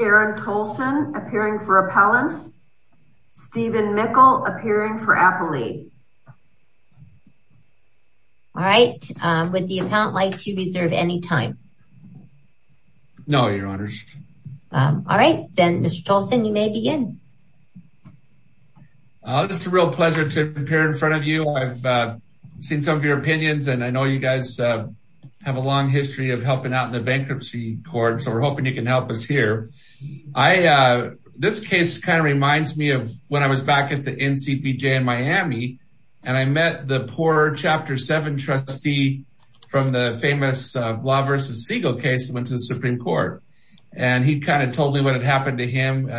Aaron Tolson appearing for Appellant Stephen Mickel appearing for Appellee All right, would the Appellant like to reserve any time? No, Your Honors. All right, then Mr. Tolson you may begin. It's a real pleasure to appear in front of you. I've seen some of your opinions and I know you guys have a long history of helping out in the bankruptcy court, so we're hoping you can help us here. This case kind of reminds me of when I was back at the NCPJ in Miami and I met the poor Chapter 7 trustee from the famous Blah v. Siegel case that went to the Supreme Court. And he kind of told me what had happened to him,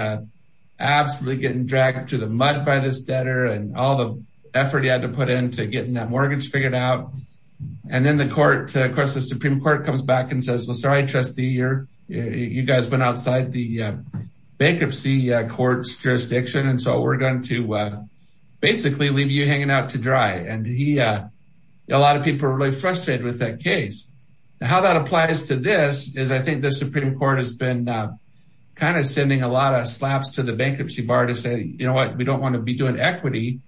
absolutely getting dragged into the mud by this debtor and all the effort he had to put into getting that mortgage figured out. Then the Supreme Court comes back and says, well, sorry, trustee, you guys went outside the bankruptcy court's jurisdiction and so we're going to basically leave you hanging out to dry. And a lot of people are really frustrated with that case. How that applies to this is I think the Supreme Court has been kind of sending a lot of slaps to the bankruptcy bar to say, you know what, we don't want to be doing equity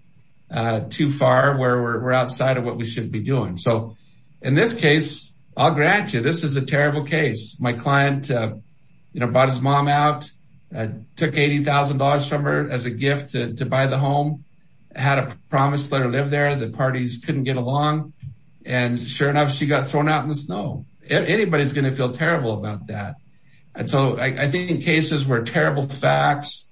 too far where we're outside of what we should be doing. So in this case, I'll grant you, this is a terrible case. My client, you know, bought his mom out, took $80,000 from her as a gift to buy the home, had a promise to let her live there, the parties couldn't get along. And sure enough, she got thrown out in the snow. Anybody's going to feel terrible about that. And so I think in cases where terrible facts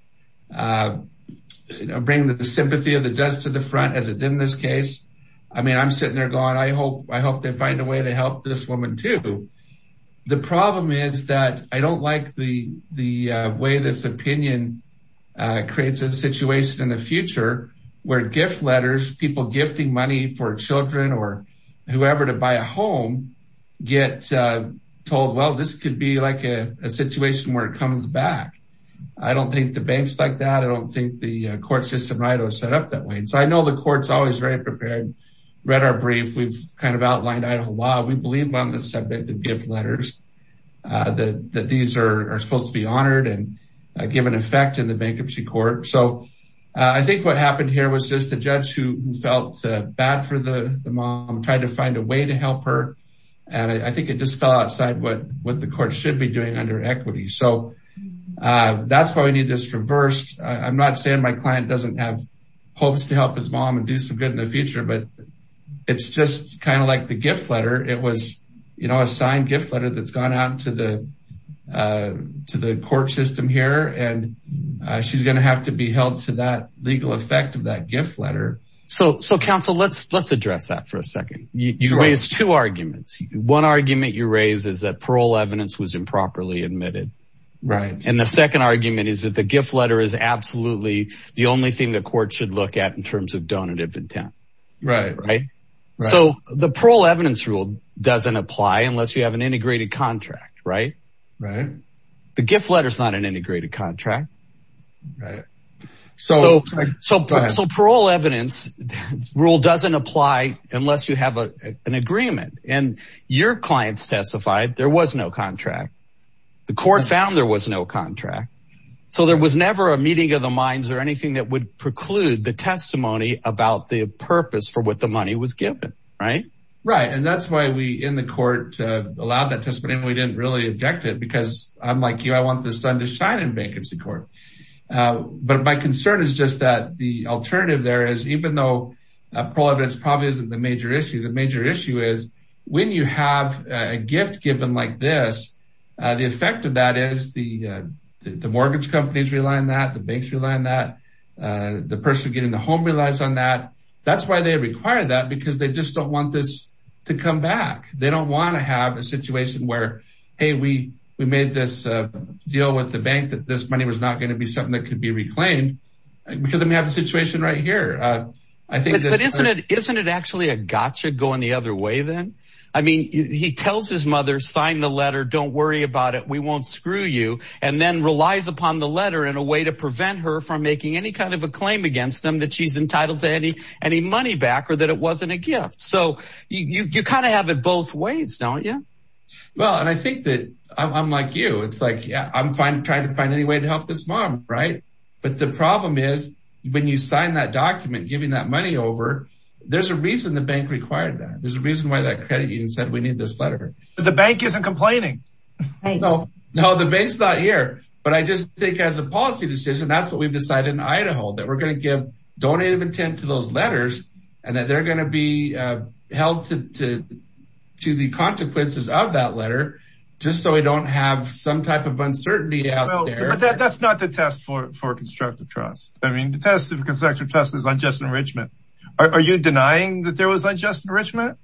bring the sympathy of the judge to the front as it did in this case, I mean, I'm sitting there going, I hope they find a way to help this woman too. The problem is that I don't like the way this opinion creates a situation in the future where gift letters, people gifting money for children or whoever to buy a home get told, well, this could be like a situation where it comes back. I don't think the bank's like that. I don't think the court system right was set up that way. And so I know the court's always very prepared, read our brief, we've kind of outlined Idaho law, we believe on the subject of gift letters, that these are supposed to be honored and given effect in the bankruptcy court. So I think what happened here was just the judge who felt bad for the mom tried to find a way to help her. And I think it just fell outside what the court should be doing under equity. So that's reversed. I'm not saying my client doesn't have hopes to help his mom and do some good in the future. But it's just kind of like the gift letter. It was, you know, a signed gift letter that's gone out to the to the court system here. And she's going to have to be held to that legal effect of that gift letter. So so counsel, let's let's address that for a second. You raise two arguments. One argument you raise is that parole evidence was improperly admitted. Right. And the second argument is that the gift letter is absolutely the only thing the court should look at in terms of donative intent. Right. Right. So the parole evidence rule doesn't apply unless you have an integrated contract. Right. Right. The gift letter is not an integrated contract. Right. So so so parole evidence rule doesn't apply unless you have an agreement and your client's testified there was no contract. The court found there was no contract. So there was never a meeting of the minds or anything that would preclude the testimony about the purpose for what the money was given. Right. Right. And that's why we in the court allowed that testimony. We didn't really object it because I'm like you, I want the sun to shine in bankruptcy court. But my concern is just that the alternative there is even though parole evidence probably isn't the issue, the major issue is when you have a gift given like this, the effect of that is the mortgage companies rely on that, the banks rely on that, the person getting the home relies on that. That's why they require that because they just don't want this to come back. They don't want to have a situation where, hey, we we made this deal with the bank that this money was not going to be something that could be reclaimed because then we have the situation right here. I think isn't it actually a gotcha going the other way then? I mean, he tells his mother, sign the letter. Don't worry about it. We won't screw you. And then relies upon the letter in a way to prevent her from making any kind of a claim against them that she's entitled to any any money back or that it wasn't a gift. So you kind of have it both ways, don't you? Well, and I think that I'm like you. It's like, yeah, I'm trying to find any way to help this mom. Right. But the problem is when you sign that document, giving that money over, there's a reason the bank required that. There's a reason why that credit union said we need this letter. The bank isn't complaining. No, the bank's not here. But I just think as a policy decision, that's what we've decided in Idaho, that we're going to give donative intent to those letters and that they're going to be held to to the consequences of that letter just so we don't have some type of uncertainty out there. But that's not the test for for constructive trust. I mean, the test of constructive trust is unjust enrichment. Are you denying that there was unjust enrichment?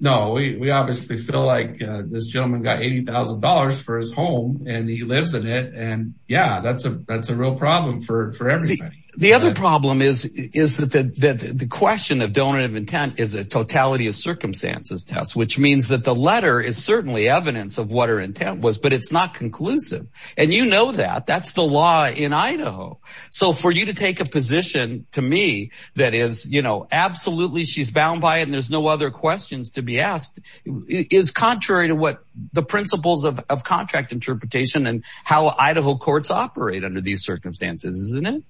No, we obviously feel like this gentleman got $80,000 for his home and he lives in it. And yeah, that's a that's a real problem for everybody. The other problem is, is that the question of donative intent is a totality of circumstances test, which means that the letter is certainly evidence of what her intent was, but it's not conclusive. And you know that that's the law in Idaho. So for you to take a position to me, that is, you know, absolutely, she's bound by it and there's no other questions to be asked is contrary to what the principles of contract interpretation and how Idaho courts operate under these circumstances, isn't it?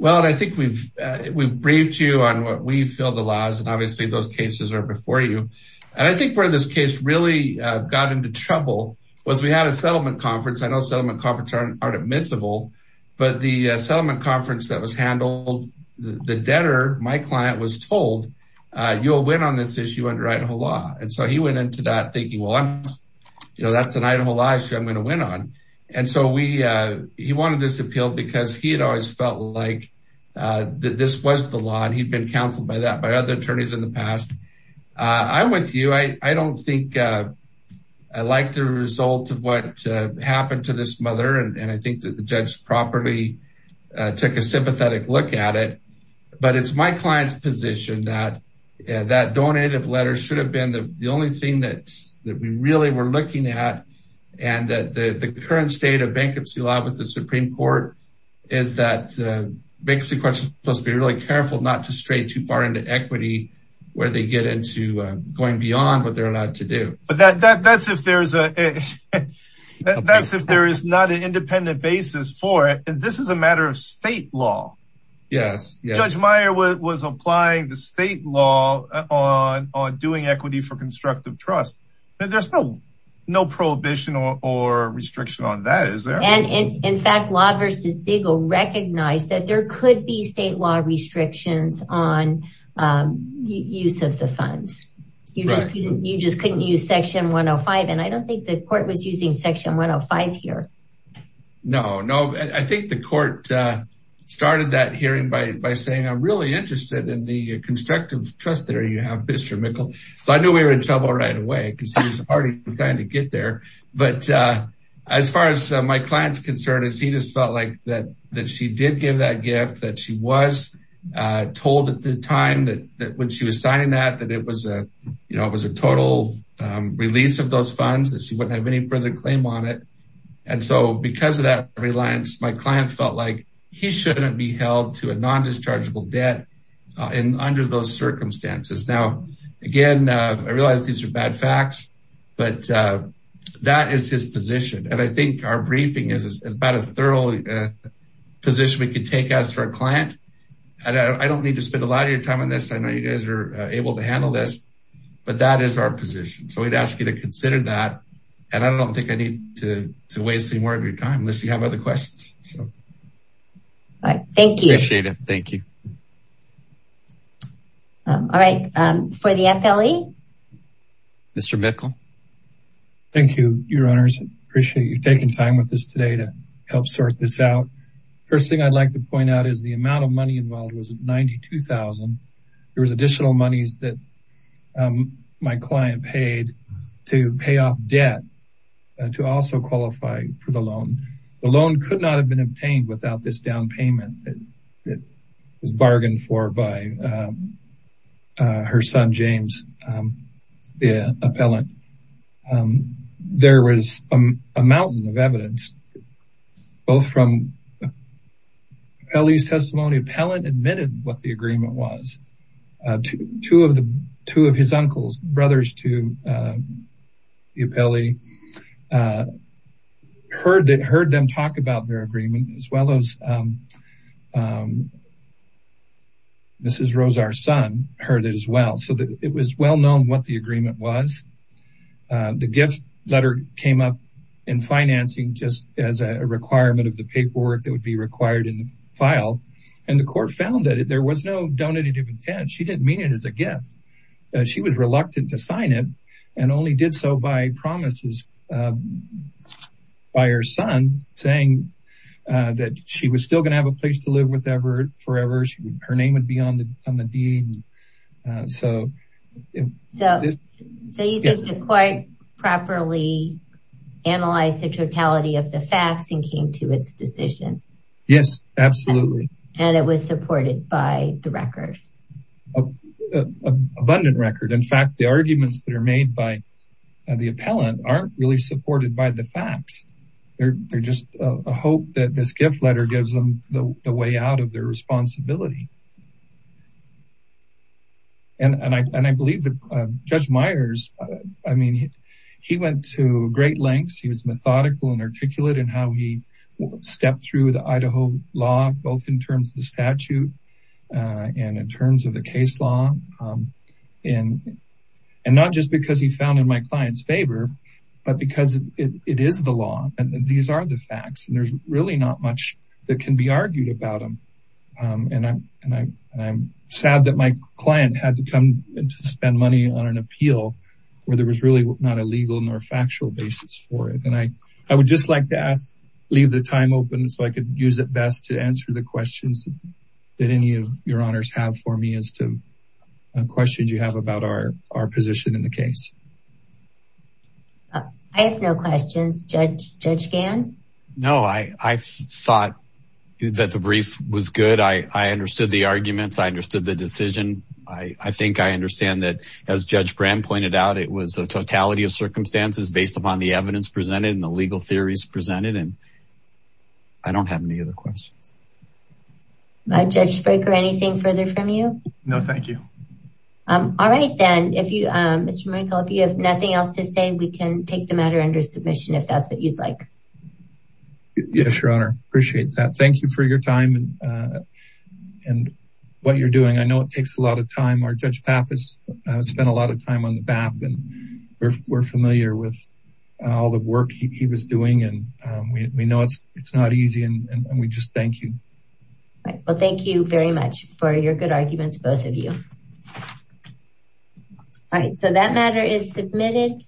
Well, I think we've we've briefed you on what we feel the laws and obviously those cases are was we had a settlement conference. I know settlement conference aren't admissible. But the settlement conference that was handled, the debtor, my client was told, you'll win on this issue under Idaho law. And so he went into that thinking, well, you know, that's an Idaho law issue I'm going to win on. And so we he wanted this appeal because he had always felt like that this was the law and he'd been counseled by that by other attorneys in the past. I'm with you. I don't think I like the result of what happened to this mother and I think that the judge properly took a sympathetic look at it. But it's my client's position that that donated letter should have been the only thing that that we really were looking at. And that the current state of bankruptcy law with the Supreme Court is that bankruptcy courts must be really careful not to stray too far into equity where they get into going beyond what they're allowed to do. But that that's if there's a that's if there is not an independent basis for it. And this is a matter of state law. Yes. Judge Meyer was applying the state law on on doing equity for constructive trust. There's no no prohibition or restriction on that. And in fact, law versus Siegel recognized that there could be state law restrictions on use of the funds. You just couldn't use Section 105. And I don't think the court was using Section 105 here. No, no. I think the court started that hearing by by saying I'm really interested in the constructive trust there you have, Mr. Mikkel. So I knew we were in trouble right away because it's already kind of get there. But as far as my client's concern is, he just felt like that, that she did give that gift that she was told at the time that that when she was signing that that it was a, you know, it was a total release of those funds that she wouldn't have any further claim on it. And so because of that reliance, my client felt like he shouldn't be held to a But that is his position. And I think our briefing is about a thorough position we could take as for a client. And I don't need to spend a lot of your time on this. I know you guys are able to handle this. But that is our position. So we'd ask you to consider that. And I don't think I need to waste any more of your time unless you have other questions. All right. Thank you. Appreciate it. Thank you. All right. For the FLE. Mr. Mikkel. Thank you, your honors. Appreciate you taking time with this today to help sort this out. First thing I'd like to point out is the amount of money involved was $92,000. There was additional monies that my client paid to pay off debt to also qualify for the loan. The loan could not have been obtained without this down payment that was bargained for by her son, James, the appellant. There was a mountain of evidence, both from FLE's testimony. Appellant admitted what the agreement was. Two of his uncles, brothers to the appellee, heard them talk about their agreement as well as Mrs. Rose, our son, heard it as well. So it was well known what the agreement was. The gift letter came up in financing just as a requirement of the paperwork that would be required in the file. And the court found that there was no donative intent. She didn't mean it as a gift. She was reluctant to sign it and only did so by promises by her son saying that she was still going to have a place to live with Everett forever. Her name would be on the deed. So you think they quite properly analyzed the totality of the facts and came to its decision? Yes, absolutely. And it was supported by the record? Abundant record. In fact, the arguments that are made by the appellant aren't really supported by the facts. They're just a hope that this gift letter gives them the way out of their responsibility. And I believe that Judge Myers, I mean, he went to great lengths. He was methodical and articulate in how he stepped through the Idaho law, both in terms of the statute and in terms of the case law. And not just because he found in my client's favor, but because it is the law and these are the facts and there's really not much that can be argued about them. And I'm sad that my client had to come and spend money on an appeal where there was really not a legal nor factual basis for it. And I would just like to ask, leave the time open so I could use it best to answer the questions that any of your honors have for me as to questions you have about our position in the case. I have no questions. Judge Gann? No, I thought that the brief was good. I understood the arguments. I understood the decision. I think I understand that as Judge Brand pointed out, it was a totality of circumstances based upon the evidence presented and the legal theories presented. And I don't have any other questions. Judge Spraker, anything further from you? No, thank you. All right then, Mr. Maricol, if you have nothing else to say, we can take the matter under submission if that's what you'd like. Yes, your honor. Appreciate that. Thank you for your time and what you're doing. I know it takes a lot of time. Our Judge Papp has spent a lot of time on the BAP and we're familiar with all the Thank you very much for your good arguments, both of you. All right, so that matter is submitted.